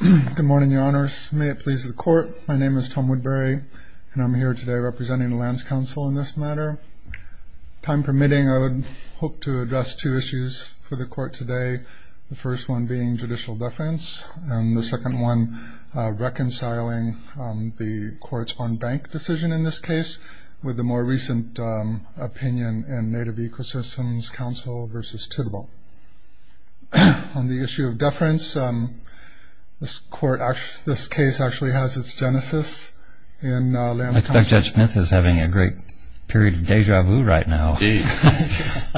Good morning your honors. May it please the court, my name is Tom Woodbury and I'm here today representing the Lands Council in this matter. Time permitting I would hope to address two issues for the court today. The first one being judicial deference and the second one reconciling the courts on bank decision in this case with the more recent opinion in Native Ecosystems Council v. Tidwell. On the issue of deference, this case actually has its genesis. I expect Judge Smith is having a great period of deja vu right now,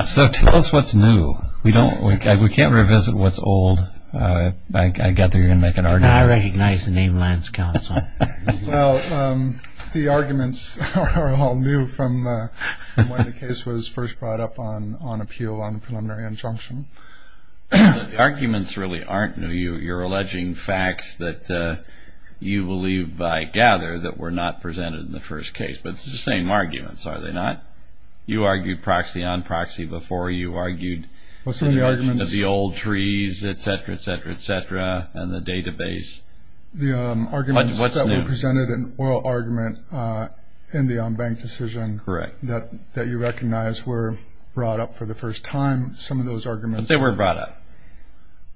so tell us what's new. We can't revisit what's old. I gather you're gonna make an argument. I recognize the name Lands Council. Well the arguments are all new from when the case was first brought up on appeal on a preliminary injunction. The arguments really aren't new. You're alleging facts that you believe, I gather, that were not presented in the first case, but it's the same arguments, are they not? You argued proxy on proxy before. You argued the argument of the old trees, etc. etc. etc. and the database. The arguments that were presented in the oral argument in the on-bank decision that you recognize were brought up for the first time. Some of those arguments... But they were brought up.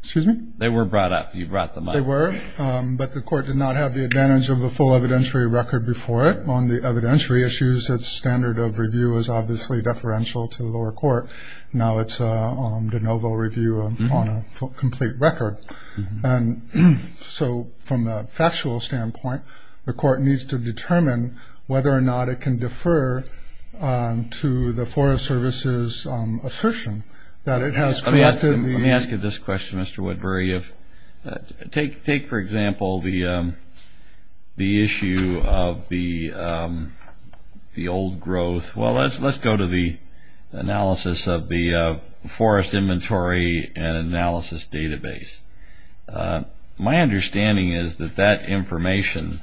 Excuse me? They were brought up. You brought them up. They were, but the court did not have the advantage of the full evidentiary record before it on the evidentiary issues. Its standard of review is obviously deferential to the lower court. Now it's a de novo review on a complete record. So from a factual standpoint, the court needs to determine whether or not it can defer to the Forest Service's assertion that it has... Let me ask you this question, Mr. Woodbury. Take, for example, the issue of the old growth. Well let's go to the analysis of the forest inventory and analysis database. My understanding is that that information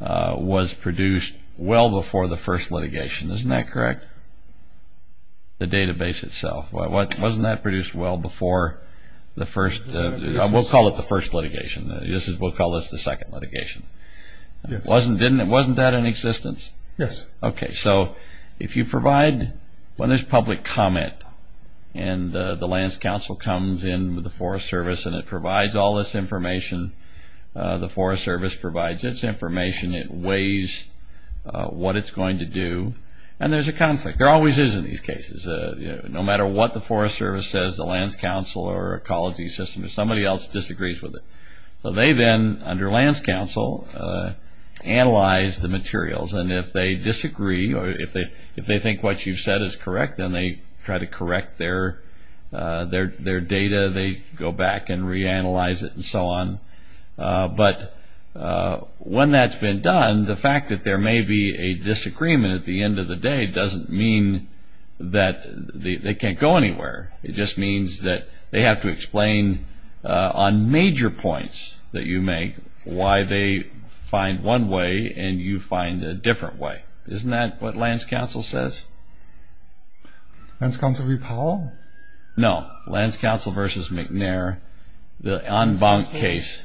was produced well before the first litigation. Isn't that correct? The database itself. Wasn't that produced well before the first... We'll call it the first litigation. We'll call this the second litigation. Wasn't that in existence? Yes. Okay, so if you provide... When there's public comment and the Lands Council comes in with the Forest Service and it provides all this information, the Forest Service provides its information, it weighs what it's going to do, and there's a conflict. There always is in these cases. No matter what the Forest Service says, the Lands Council or Ecology System, or somebody else disagrees with it. They then, under Lands Council, analyze the materials. And if they disagree, or if they think what you've said is correct, then they try to correct their data. They go back and reanalyze it and so on. But when that's been done, the fact that there may be a disagreement at the end of the day doesn't mean that they can't go back and reanalyze the points that you make, why they find one way and you find a different way. Isn't that what Lands Council says? Lands Council v. Powell? No, Lands Council v. McNair, the en banc case.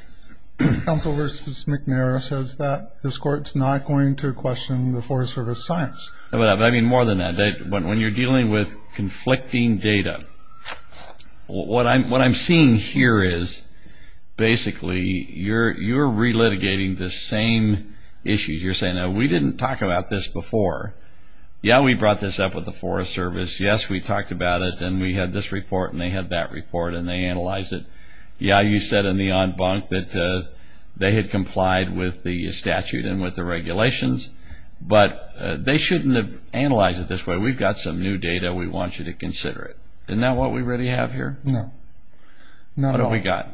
Lands Council v. McNair says that this Court's not going to question the Forest Service's science. I mean more than that. When you're dealing with conflicting data, what I'm seeing here is, basically, you're relitigating the same issue. You're saying, we didn't talk about this before. Yeah, we brought this up with the Forest Service. Yes, we talked about it, and we had this report, and they had that report, and they shouldn't have analyzed it this way. We've got some new data. We want you to consider it. Isn't that what we really have here? No. What have we got?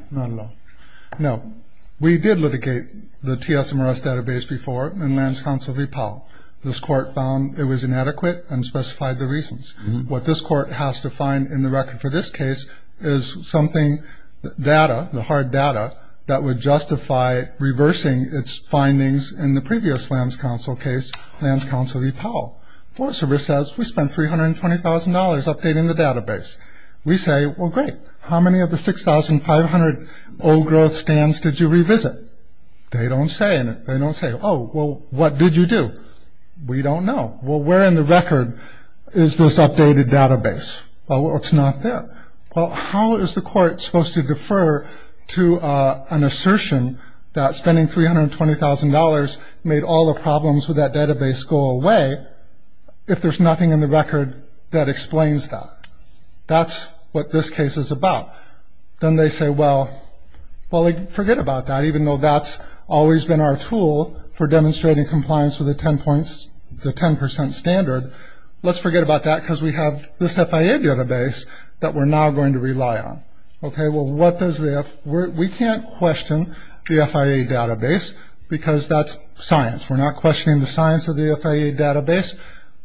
No, we did litigate the TSMRS database before in Lands Council v. Powell. This Court found it was inadequate and specified the reasons. What this Court has to find in the record for this case is something, data, the hard data, that would justify reversing its findings in the previous Lands Council case, Lands Council v. Powell. The Forest Service says, we spent $320,000 updating the database. We say, well, great. How many of the 6,500 old growth stands did you revisit? They don't say in it. They don't say, oh, well, what did you do? We don't know. Well, where in the record is this updated database? Well, it's not there. Well, how is the Court supposed to defer to an assertion that spending $320,000 made all the problems with that database go away if there's nothing in the record that explains that? That's what this case is about. Then they say, well, forget about that. Even though that's always been our tool for demonstrating compliance with the 10% standard, let's forget about that because we have this FIA database that we're now going to rely on. We can't question the FIA database because that's science. We're not questioning the science of the FIA database,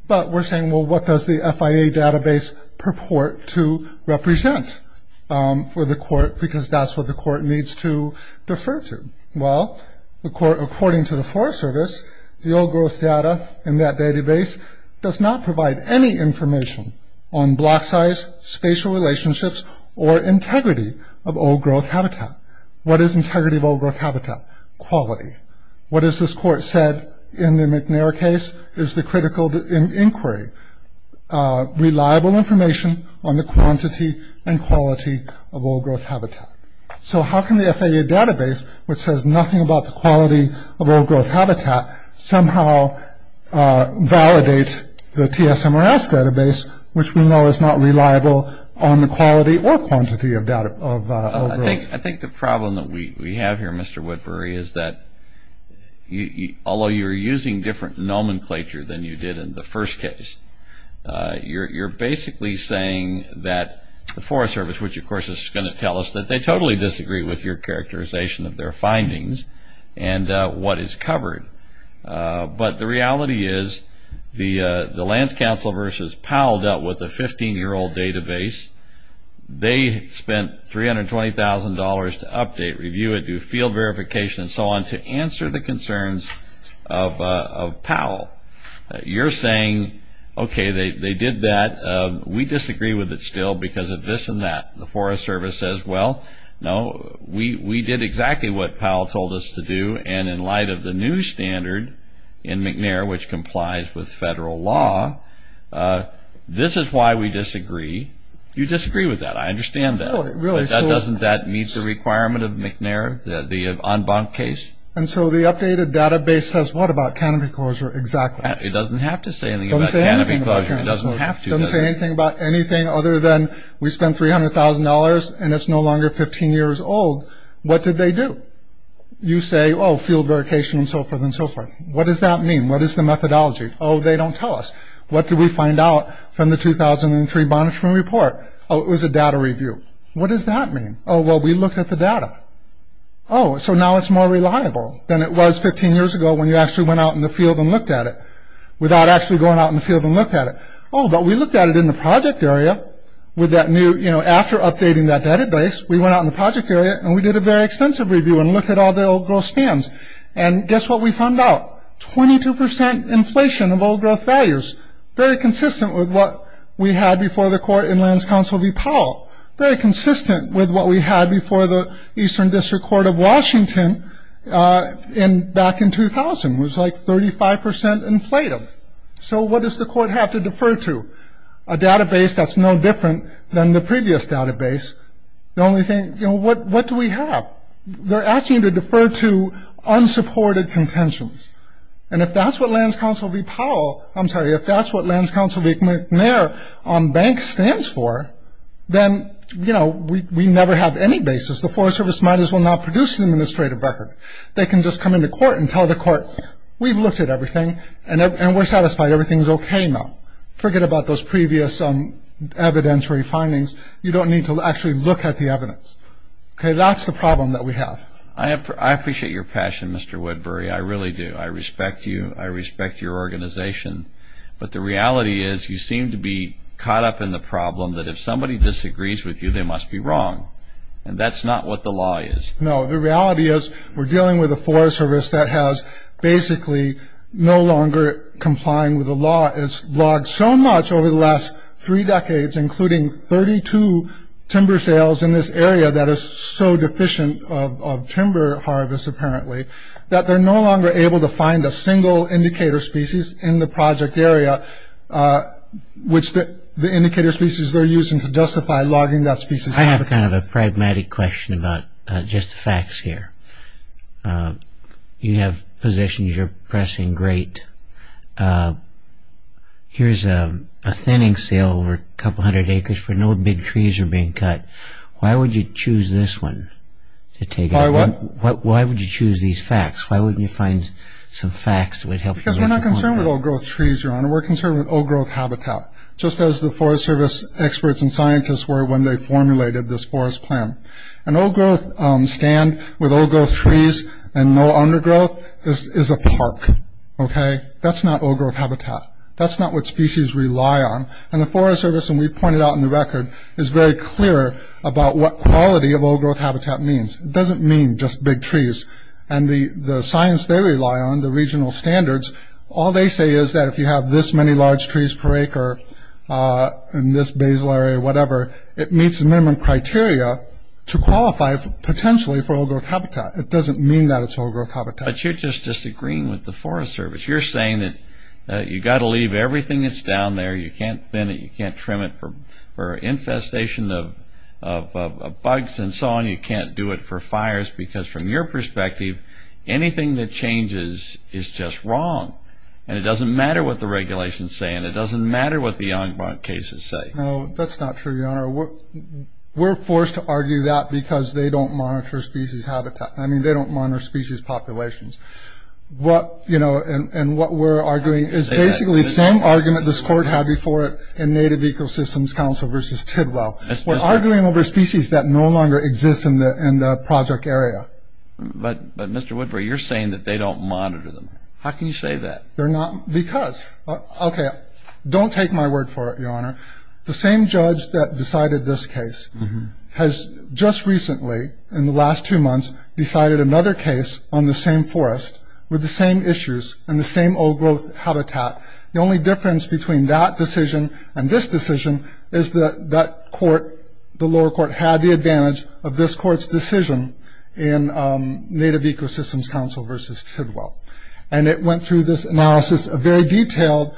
but we're saying, well, what does the FIA database purport to represent for the Court because that's what the Court needs to defer to? Well, according to the Forest Service, the old growth data in that database does not provide any information on block size, spatial relationships, or integrity of old growth habitat. What is integrity of old growth habitat? Quality. What has this Court said in the McNair case is the critical inquiry. Reliable information on the quantity and quality of old growth habitat. So how can the FIA database, which says nothing about the quality of old growth habitat, somehow validate the TSMRS database, which we know is not reliable on the quality or quantity of old growth? I think the problem that we have here, Mr. Woodbury, is that although you're using different nomenclature than you did in the first case, you're basically saying that the Forest Service, which of course is going to tell us that they totally disagree with your characterization of their findings and what is covered. But the reality is the Lance Counsel versus Powell dealt with a 15-year-old database. They spent $320,000 to update, review it, do field verification and so on to answer the concerns of Powell. You're saying, okay, they did that. We disagree with it still because of this and that. The Forest Service says, well, no, we did exactly what Powell told us to do and in light of the new standard in McNair, which complies with federal law, this is why we disagree. You disagree with that. I understand that. But doesn't that meet the requirement of McNair, the en banc case? And so the updated database says what about canopy closure exactly? It doesn't have to say anything about canopy closure. It doesn't have to. It doesn't say anything about anything other than we spent $300,000 and it's no longer 15 years old. What did they do? You say, oh, field verification and so forth and so forth. What does that mean? What is the methodology? Oh, they don't tell us. What did we find out from the 2003 monitoring report? Oh, it was a data review. What does that mean? Oh, well, we looked at the data. Oh, so now it's more reliable than it was 15 years ago when you actually went out in the field and looked at it without actually going out in the field and looked at it. Oh, but we looked at it in the project area with that new, you know, after updating that database, we went out in the project area and we did a very extensive review and looked at all the old growth stands. And guess what we found out? 22% inflation of old growth values. Very consistent with what we had before the court in Lands Council v. Powell. Very consistent with what we had before the Eastern District Court of Washington back in 2000. It was like 35% inflated. So what does the court have to defer to? A database that's no different than the previous database. The only thing, you know, what do we have? They're asking you to defer to unsupported contentions. And if that's what Lands Council v. Powell, I'm sorry, if that's what Lands Council v. McNair on banks stands for, then, you know, we never have any basis. The Forest Service might as well not produce an administrative record. They can just come into court and tell the court, we've looked at everything and we're satisfied, everything's okay now. Forget about those previous evidentiary findings. You don't need to actually look at the evidence. Okay, that's the problem that we have. I appreciate your passion, Mr. Woodbury. I really do. I respect you. I respect your organization. But the reality is you seem to be caught up in the problem that if somebody disagrees with you, they must be wrong. And that's not what the law is. No, the reality is we're dealing with a Forest Service that has basically no longer complying with the law. It's logged so much over the last three decades, including 32 timber sales in this area that is so deficient of timber harvest, apparently, that they're no longer able to find a single indicator species in the project area, which the indicator species they're using to justify logging that species. I have kind of a pragmatic question about just the facts here. You have positions you're pressing great. Here's a thinning sale over a couple hundred acres where no big trees are being cut. Why would you choose this one? Why would you choose these facts? Why wouldn't you find some facts that would help you? Because we're not concerned with old-growth trees, Your Honor. We're concerned with old-growth habitat. Just as the Forest Service experts and scientists were when they formulated this forest plan. An old-growth stand with old-growth trees and no undergrowth is a park, okay? That's not old-growth habitat. That's not what species rely on. And the Forest Service, and we pointed out in the record, is very clear about what quality of old-growth habitat means. It doesn't mean just big trees. And the science they rely on, the regional standards, all they say is that if you have this many large trees per acre in this basal area or whatever, it meets the minimum criteria to qualify potentially for old-growth habitat. It doesn't mean that it's old-growth habitat. But you're just disagreeing with the Forest Service. You're saying that you've got to leave everything that's down there. You can't thin it. You can't trim it for infestation of bugs and so on. You can't do it for fires. Because from your perspective, anything that changes is just wrong. And it doesn't matter what the regulations say. And it doesn't matter what the ongoing cases say. No, that's not true, Your Honor. We're forced to argue that because they don't monitor species habitat. I mean, they don't monitor species populations. And what we're arguing is basically the same argument this Court had before in Native Ecosystems Council versus Tidwell. We're arguing over species that no longer exist in the project area. But, Mr. Woodbury, you're saying that they don't monitor them. How can you say that? Because. Okay, don't take my word for it, Your Honor. The same judge that decided this case has just recently, in the last two months, decided another case on the same forest with the same issues and the same old-growth habitat. The only difference between that decision and this decision is that that court, the lower court, had the advantage of this court's decision in Native Ecosystems Council versus Tidwell. And it went through this analysis, a very detailed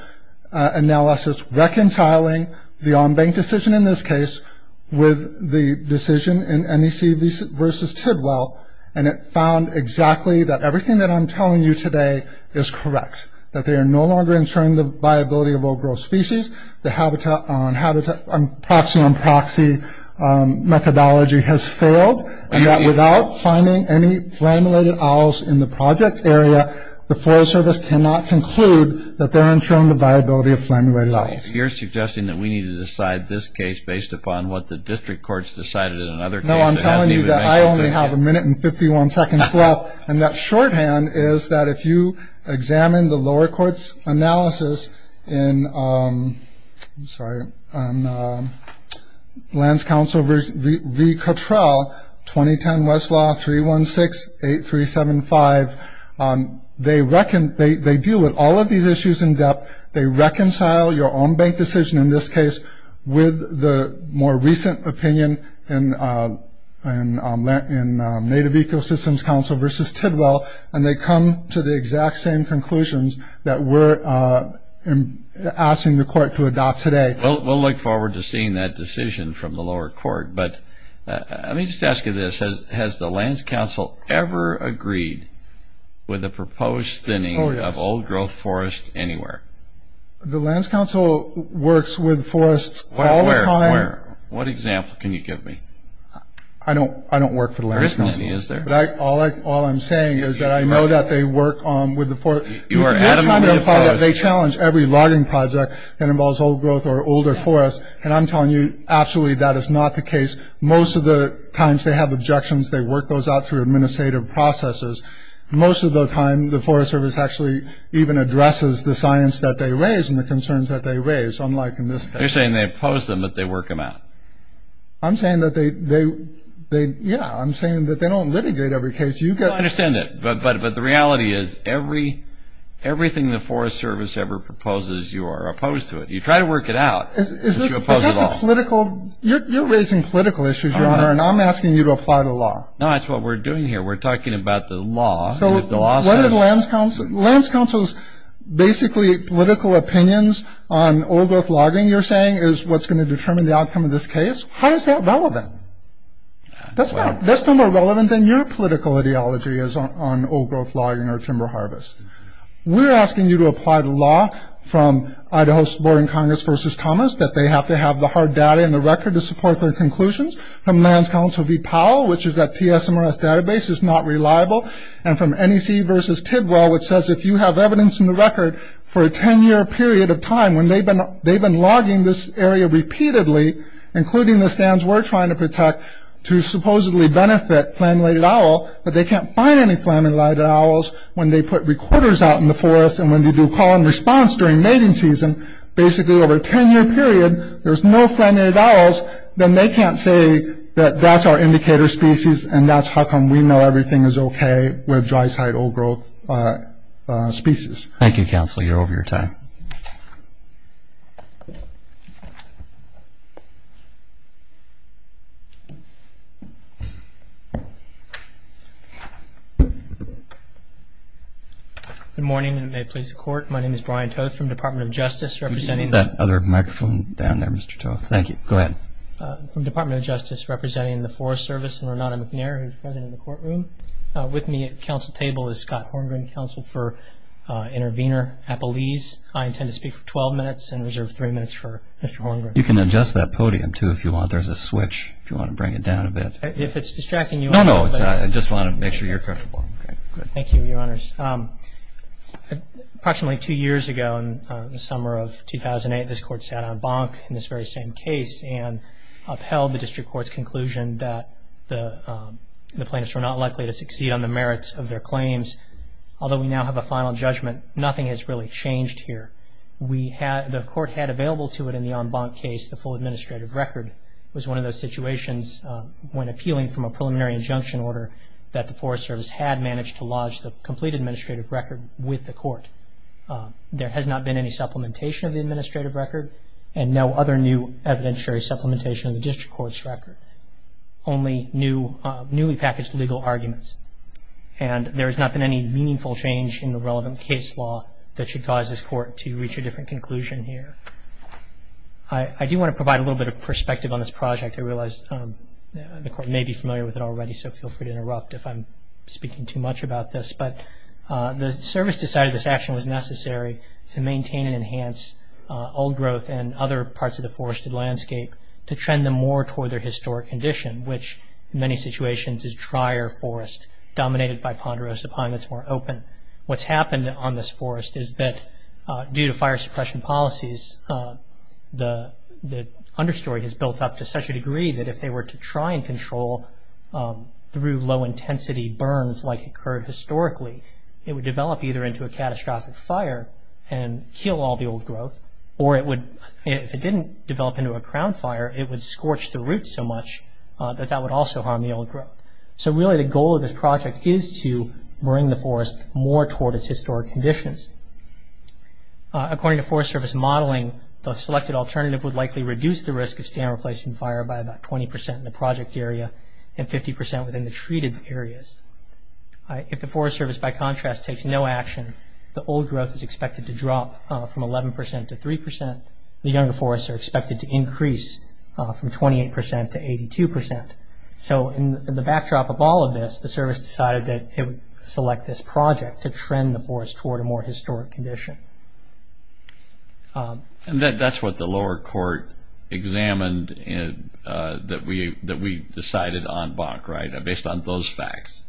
analysis, reconciling the on-bank decision in this case with the decision in NEC versus Tidwell. And it found exactly that everything that I'm telling you today is correct, that they are no longer ensuring the viability of old-growth species, the proxy on proxy methodology has failed, and that without finding any flammulated owls in the project area, the Forest Service cannot conclude that they're ensuring the viability of flammulated owls. You're suggesting that we need to decide this case based upon what the district courts decided in another case. No, I'm telling you that I only have a minute and 51 seconds left. And that shorthand is that if you examine the lower court's analysis in Lands Council v. Cottrell, 2010 Westlaw 316-8375, they deal with all of these issues in depth, they reconcile your on-bank decision in this case with the more recent opinion in Native Ecosystems Council v. Tidwell, and they come to the exact same conclusions that we're asking the court to adopt today. We'll look forward to seeing that decision from the lower court. But let me just ask you this. Has the Lands Council ever agreed with the proposed thinning of old-growth forest anywhere? The Lands Council works with forests all the time. What example can you give me? I don't work for the Lands Council. There isn't any, is there? All I'm saying is that I know that they work with the forest. You are adamantly opposed. They challenge every logging project that involves old-growth or older forests, and I'm telling you absolutely that is not the case. Most of the times they have objections. They work those out through administrative processes. Most of the time the Forest Service actually even addresses the science that they raise and the concerns that they raise, unlike in this case. They're saying they oppose them, but they work them out. I'm saying that they don't litigate every case. I understand that, but the reality is everything the Forest Service ever proposes, you are opposed to it. You try to work it out, but you oppose it all. You're raising political issues, Your Honor, and I'm asking you to apply the law. No, that's what we're doing here. We're talking about the law. Lands Council's basically political opinions on old-growth logging, you're saying, is what's going to determine the outcome of this case. How is that relevant? That's no more relevant than your political ideology is on old-growth logging or timber harvest. We're asking you to apply the law from Idaho's Board in Congress versus Thomas, that they have to have the hard data and the record to support their conclusions, from Lands Council v. Powell, which is that TSMRS database is not reliable, and from NEC v. Tidwell, which says if you have evidence in the record for a 10-year period of time, when they've been logging this area repeatedly, including the stands we're trying to protect, to supposedly benefit flammulated owl, but they can't find any flammulated owls when they put recorders out in the forest and when they do call-and-response during mating season, basically over a 10-year period, there's no flammulated owls, then they can't say that that's our indicator species and that's how come we know everything is okay with dry-site old-growth species. Thank you, Counselor. You're over your time. Good morning, and may it please the Court. My name is Brian Toth from the Department of Justice, representing the – from the Department of Justice, representing the Forest Service, and Renata McNair, who's the President of the Courtroom. With me at the Council table is Scott Horngren, Counsel for Intervenor Appellees. I intend to speak for 12 minutes and reserve three minutes for Mr. Horngren. You can adjust that podium, too, if you want. There's a switch, if you want to bring it down a bit. If it's distracting you all. No, no, it's not. I just want to make sure you're comfortable. Thank you, Your Honors. Approximately two years ago, in the summer of 2008, this Court sat en banc in this very same case and upheld the District Court's conclusion that the plaintiffs were not likely to succeed on the merits of their claims. Although we now have a final judgment, nothing has really changed here. The Court had available to it in the en banc case the full administrative record. It was one of those situations, when appealing from a preliminary injunction order, that the Forest Service had managed to lodge the complete administrative record with the Court. There has not been any supplementation of the administrative record and no other new evidentiary supplementation of the District Court's record, only newly packaged legal arguments. And there has not been any meaningful change in the relevant case law that should cause this Court to reach a different conclusion here. I do want to provide a little bit of perspective on this project. I realize the Court may be familiar with it already, so feel free to interrupt if I'm speaking too much about this. But the Service decided this action was necessary to maintain and enhance old growth and other parts of the forested landscape to trend them more toward their historic condition, which in many situations is drier forest dominated by ponderosa pine that's more open. What's happened on this forest is that due to fire suppression policies, the understory has built up to such a degree that if they were to try and control through low intensity burns like occurred historically, it would develop either into a catastrophic fire and kill all the old growth, or if it didn't develop into a crown fire, it would scorch the roots so much that that would also harm the old growth. So really the goal of this project is to bring the forest more toward its historic conditions. According to Forest Service modeling, the selected alternative would likely reduce the risk of stand replacing fire by about 20% in the project area and 50% within the treated areas. If the Forest Service, by contrast, takes no action, the old growth is expected to drop from 11% to 3%. The younger forests are expected to increase from 28% to 82%. So in the backdrop of all of this, the Service decided that it would select this project to trend the forest toward a more historic condition. And that's what the lower court examined that we decided en banc, right? Based on those facts?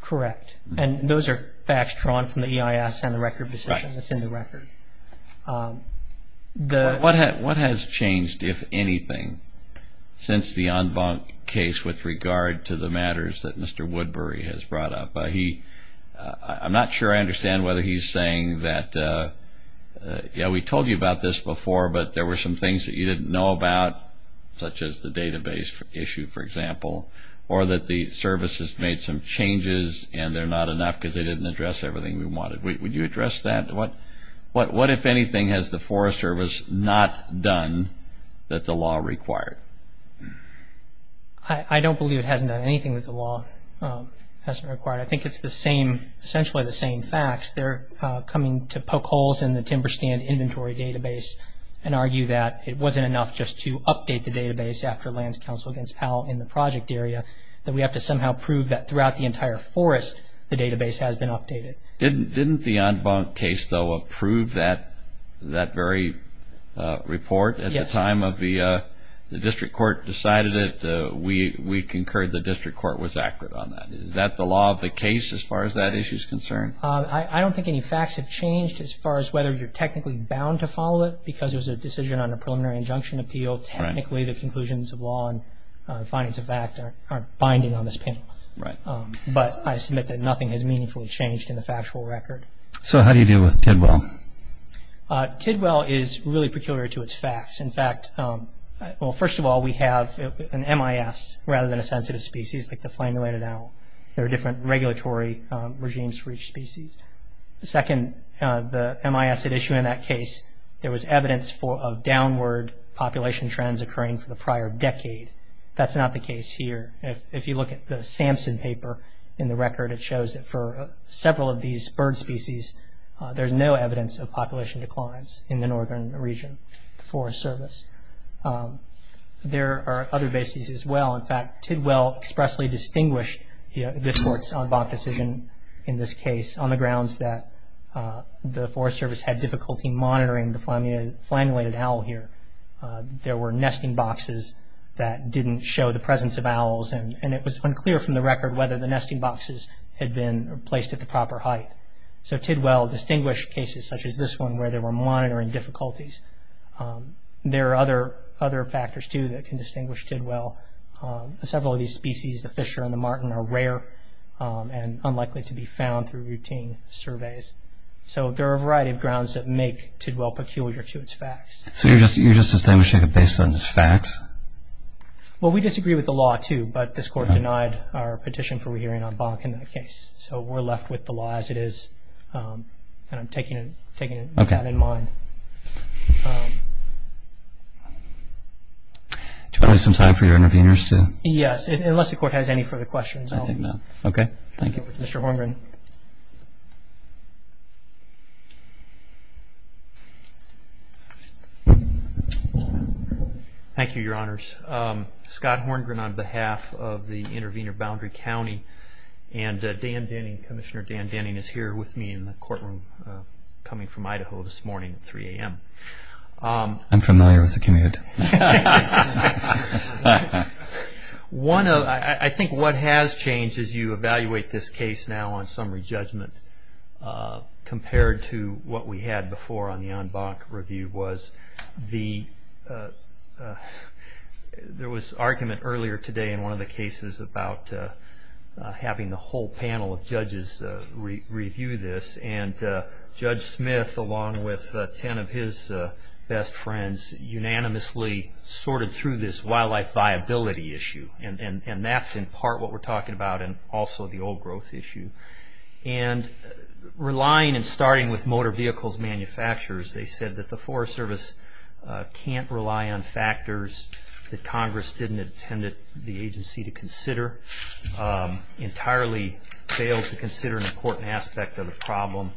Correct. And those are facts drawn from the EIS and the record position that's in the record. Right. What has changed, if anything, since the en banc case with regard to the matters that Mr. Woodbury has brought up? I'm not sure I understand whether he's saying that, yeah, we told you about this before but there were some things that you didn't know about, such as the database issue, for example, or that the Service has made some changes and they're not enough because they didn't address everything we wanted. Would you address that? What, if anything, has the Forest Service not done that the law required? I don't believe it hasn't done anything that the law has required. I think it's the same, essentially the same facts. They're coming to poke holes in the timber stand inventory database and argue that it wasn't enough just to update the database after lands council against how in the project area, that we have to somehow prove that throughout the entire forest the database has been updated. Didn't the en banc case, though, approve that very report? Yes. At the time the district court decided it, we concurred the district court was accurate on that. Is that the law of the case as far as that issue is concerned? I don't think any facts have changed as far as whether you're technically bound to follow it because it was a decision on a preliminary injunction appeal. Technically the conclusions of law and findings of fact are binding on this panel. But I submit that nothing has meaningfully changed in the factual record. So how do you deal with Tidwell? Tidwell is really peculiar to its facts. In fact, well, first of all, we have an MIS rather than a sensitive species like the flame-related owl. There are different regulatory regimes for each species. Second, the MIS issue in that case, there was evidence of downward population trends occurring for the prior decade. That's not the case here. If you look at the Samson paper in the record, it shows that for several of these bird species, there's no evidence of population declines in the northern region, the Forest Service. There are other bases as well. In fact, Tidwell expressly distinguished this court's oddball decision in this case on the grounds that the Forest Service had difficulty monitoring the flame-related owl here. There were nesting boxes that didn't show the presence of owls, and it was unclear from the record whether the nesting boxes had been placed at the proper height. So Tidwell distinguished cases such as this one where there were monitoring difficulties. There are other factors, too, that can distinguish Tidwell. Several of these species, the fisher and the marten, are rare and unlikely to be found through routine surveys. So there are a variety of grounds that make Tidwell peculiar to its facts. So you're just distinguishing it based on its facts? Well, we disagree with the law, too, but this court denied our petition for re-hearing on Bonkin in the case. So we're left with the law as it is, and I'm taking that in mind. Do we have some time for your interveners? Yes, unless the court has any further questions. I think not. Okay, thank you. Mr. Horngren. Thank you, Your Honors. Scott Horngren on behalf of the Intervenor Boundary County, and Commissioner Dan Denning is here with me in the courtroom coming from Idaho this morning at 3 a.m. I'm familiar with the commute. I think what has changed as you evaluate this case now on summary judgment compared to what we had before on the en banc review was there was argument earlier today in one of the cases about having the whole panel of judges review this, and Judge Smith along with ten of his best friends unanimously sorted through this wildlife viability issue, and that's in part what we're talking about and also the old growth issue. And relying and starting with motor vehicles manufacturers, they said that the Forest Service can't rely on factors that Congress didn't intend the agency to consider, entirely failed to consider an important aspect of the problem,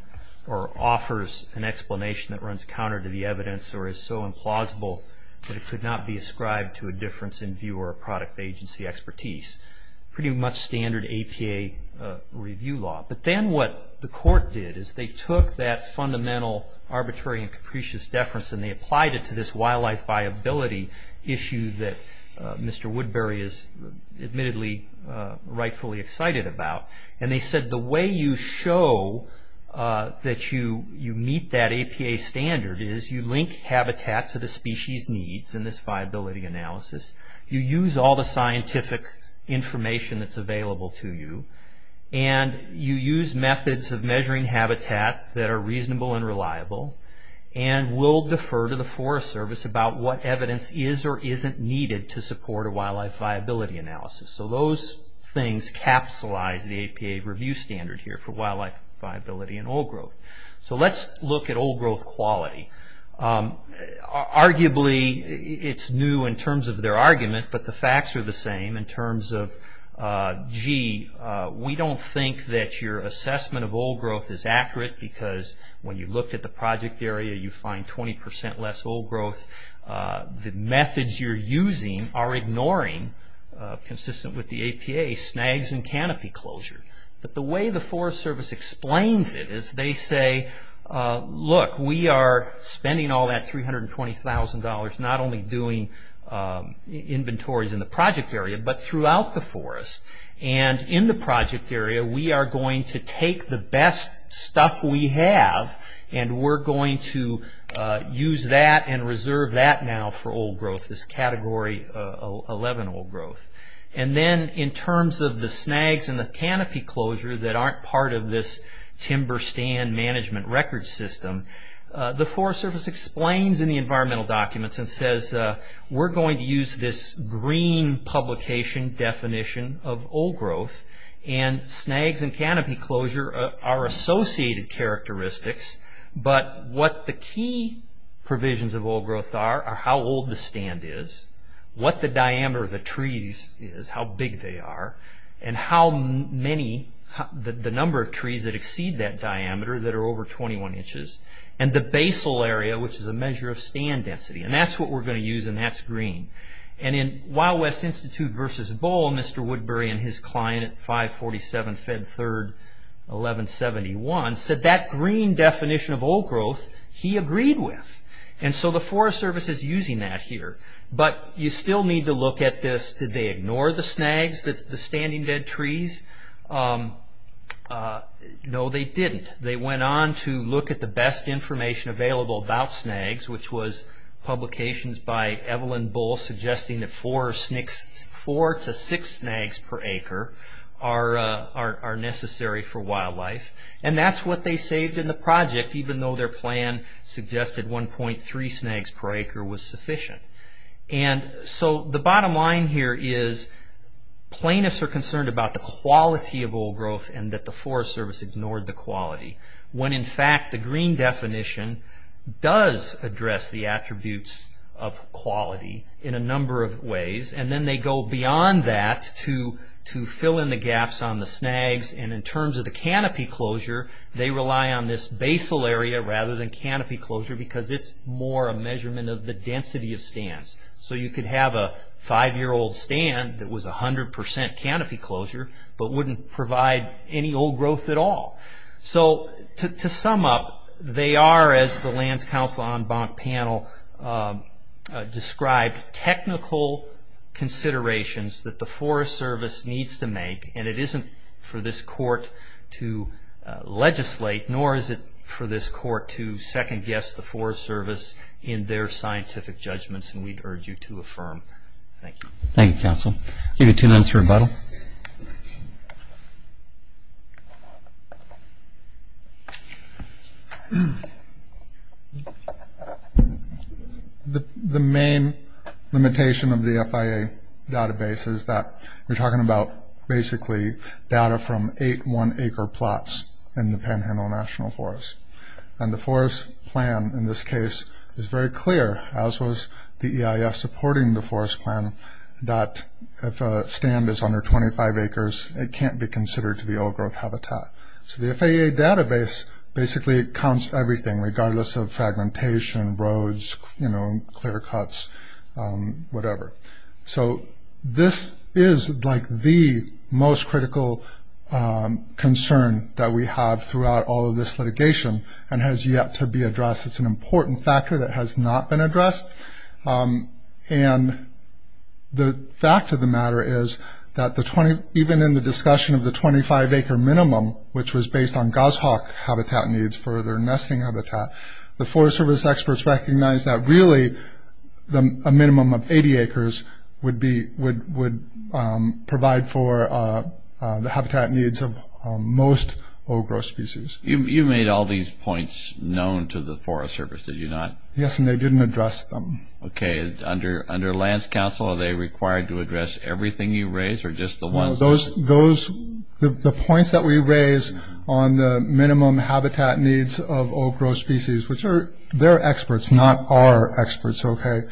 or offers an explanation that runs counter to the evidence or is so implausible that it could not be ascribed to a difference in viewer or product agency expertise. Pretty much standard APA review law. But then what the court did is they took that fundamental arbitrary and capricious deference and they applied it to this wildlife viability issue that Mr. Woodbury is admittedly rightfully excited about. And they said the way you show that you meet that APA standard is you link habitat to the species needs in this viability analysis, you use all the scientific information that's available to you, and you use methods of measuring habitat that are reasonable and reliable, and will defer to the Forest Service about what evidence is or isn't needed to support a wildlife viability analysis. So those things capsulize the APA review standard here for wildlife viability and old growth. So let's look at old growth quality. Arguably it's new in terms of their argument, but the facts are the same in terms of, gee, we don't think that your assessment of old growth is accurate because when you look at the project area you find 20% less old growth. The methods you're using are ignoring, consistent with the APA, snags and canopy closure. But the way the Forest Service explains it is they say, look, we are spending all that $320,000 not only doing inventories in the project area but throughout the forest. And in the project area we are going to take the best stuff we have and we're going to use that and reserve that now for old growth, this category 11 old growth. And then in terms of the snags and the canopy closure that aren't part of this timber stand management record system, the Forest Service explains in the environmental documents and says we're going to use this green publication definition of old growth and snags and canopy closure are associated characteristics, but what the key provisions of old growth are are how old the stand is, what the diameter of the trees is, how big they are, and how many, the number of trees that exceed that diameter that are over 21 inches, and the basal area which is a measure of stand density. And that's what we're going to use and that's green. And in Wild West Institute versus Bull, Mr. Woodbury and his client at 547 Fed 3rd 1171 said that green definition of old growth he agreed with. And so the Forest Service is using that here. But you still need to look at this, did they ignore the snags, the standing dead trees? No they didn't. They went on to look at the best information available about snags, which was publications by Evelyn Bull suggesting that four to six snags per acre are necessary for wildlife. And that's what they saved in the project even though their plan suggested 1.3 snags per acre was sufficient. And so the bottom line here is plaintiffs are concerned about the quality of old growth and that the Forest Service ignored the quality. When in fact the green definition does address the attributes of quality in a number of ways and then they go beyond that to fill in the gaps on the snags. And in terms of the canopy closure, they rely on this basal area rather than canopy closure because it's more a measurement of the density of stands. So you could have a five-year-old stand that was 100% canopy closure but wouldn't provide any old growth at all. So to sum up, they are, as the Lands Council En Banc panel described, technical considerations that the Forest Service needs to make. And it isn't for this court to legislate nor is it for this court to second-guess the Forest Service in their scientific judgments, and we'd urge you to affirm. Thank you. Thank you, counsel. Give you two minutes for rebuttal. Okay. The main limitation of the FIA database is that we're talking about basically data from eight one-acre plots in the Panhandle National Forest. And the forest plan, in this case, is very clear, as was the EIS supporting the forest plan, that if a stand is under 25 acres, it can't be considered to be old growth habitat. So the FIA database basically counts everything, regardless of fragmentation, roads, clear cuts, whatever. So this is like the most critical concern that we have throughout all of this litigation and has yet to be addressed. It's an important factor that has not been addressed. And the fact of the matter is that even in the discussion of the 25-acre minimum, which was based on goshawk habitat needs for their nesting habitat, the Forest Service experts recognize that really a minimum of 80 acres would provide for the habitat needs of most old growth species. You made all these points known to the Forest Service, did you not? Yes, and they didn't address them. Okay. Under lands council, are they required to address everything you raise or just the ones? The points that we raise on the minimum habitat needs of old growth species, which are, they're experts, not our experts, okay?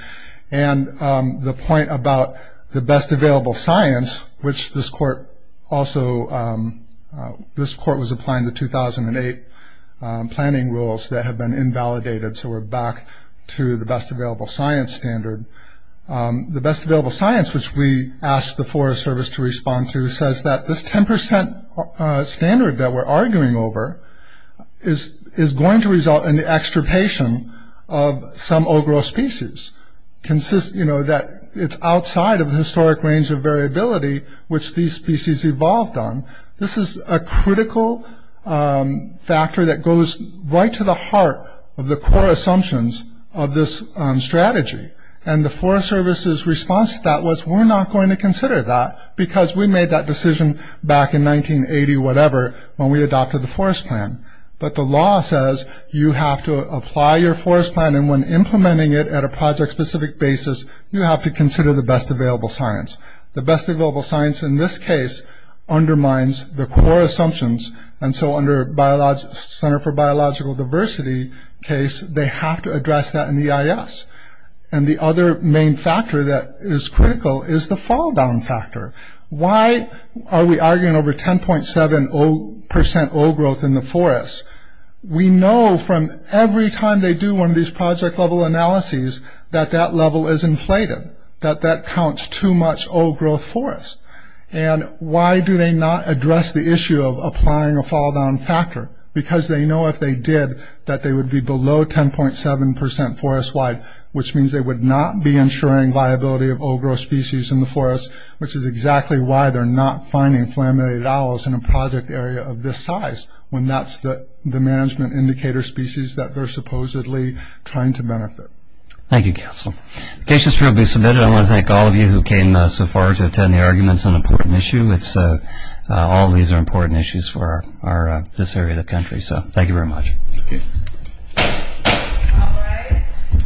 And the point about the best available science, which this court also, this court was applying the 2008 planning rules that have been invalidated, so we're back to the best available science standard. The best available science, which we asked the Forest Service to respond to, says that this 10% standard that we're arguing over is going to result in the extirpation of some old growth species, that it's outside of the historic range of variability which these species evolved on. This is a critical factor that goes right to the heart of the core assumptions of this strategy. And the Forest Service's response to that was we're not going to consider that because we made that decision back in 1980-whatever when we adopted the forest plan. But the law says you have to apply your forest plan, and when implementing it at a project-specific basis, you have to consider the best available science. The best available science in this case undermines the core assumptions, and so under Center for Biological Diversity case, they have to address that in the EIS. And the other main factor that is critical is the fall-down factor. Why are we arguing over 10.7% old growth in the forest? We know from every time they do one of these project-level analyses that that level is inflated, that that counts too much old growth forest. And why do they not address the issue of applying a fall-down factor? Because they know if they did that they would be below 10.7% forest-wide, which means they would not be ensuring viability of old growth species in the forest, which is exactly why they're not finding flammated owls in a project area of this size when that's the management indicator species that they're supposedly trying to benefit. Thank you, Counselor. The case has probably been submitted. I want to thank all of you who came so far to attend the argument. It's an important issue. All of these are important issues for this area of the country. So thank you very much. Thank you.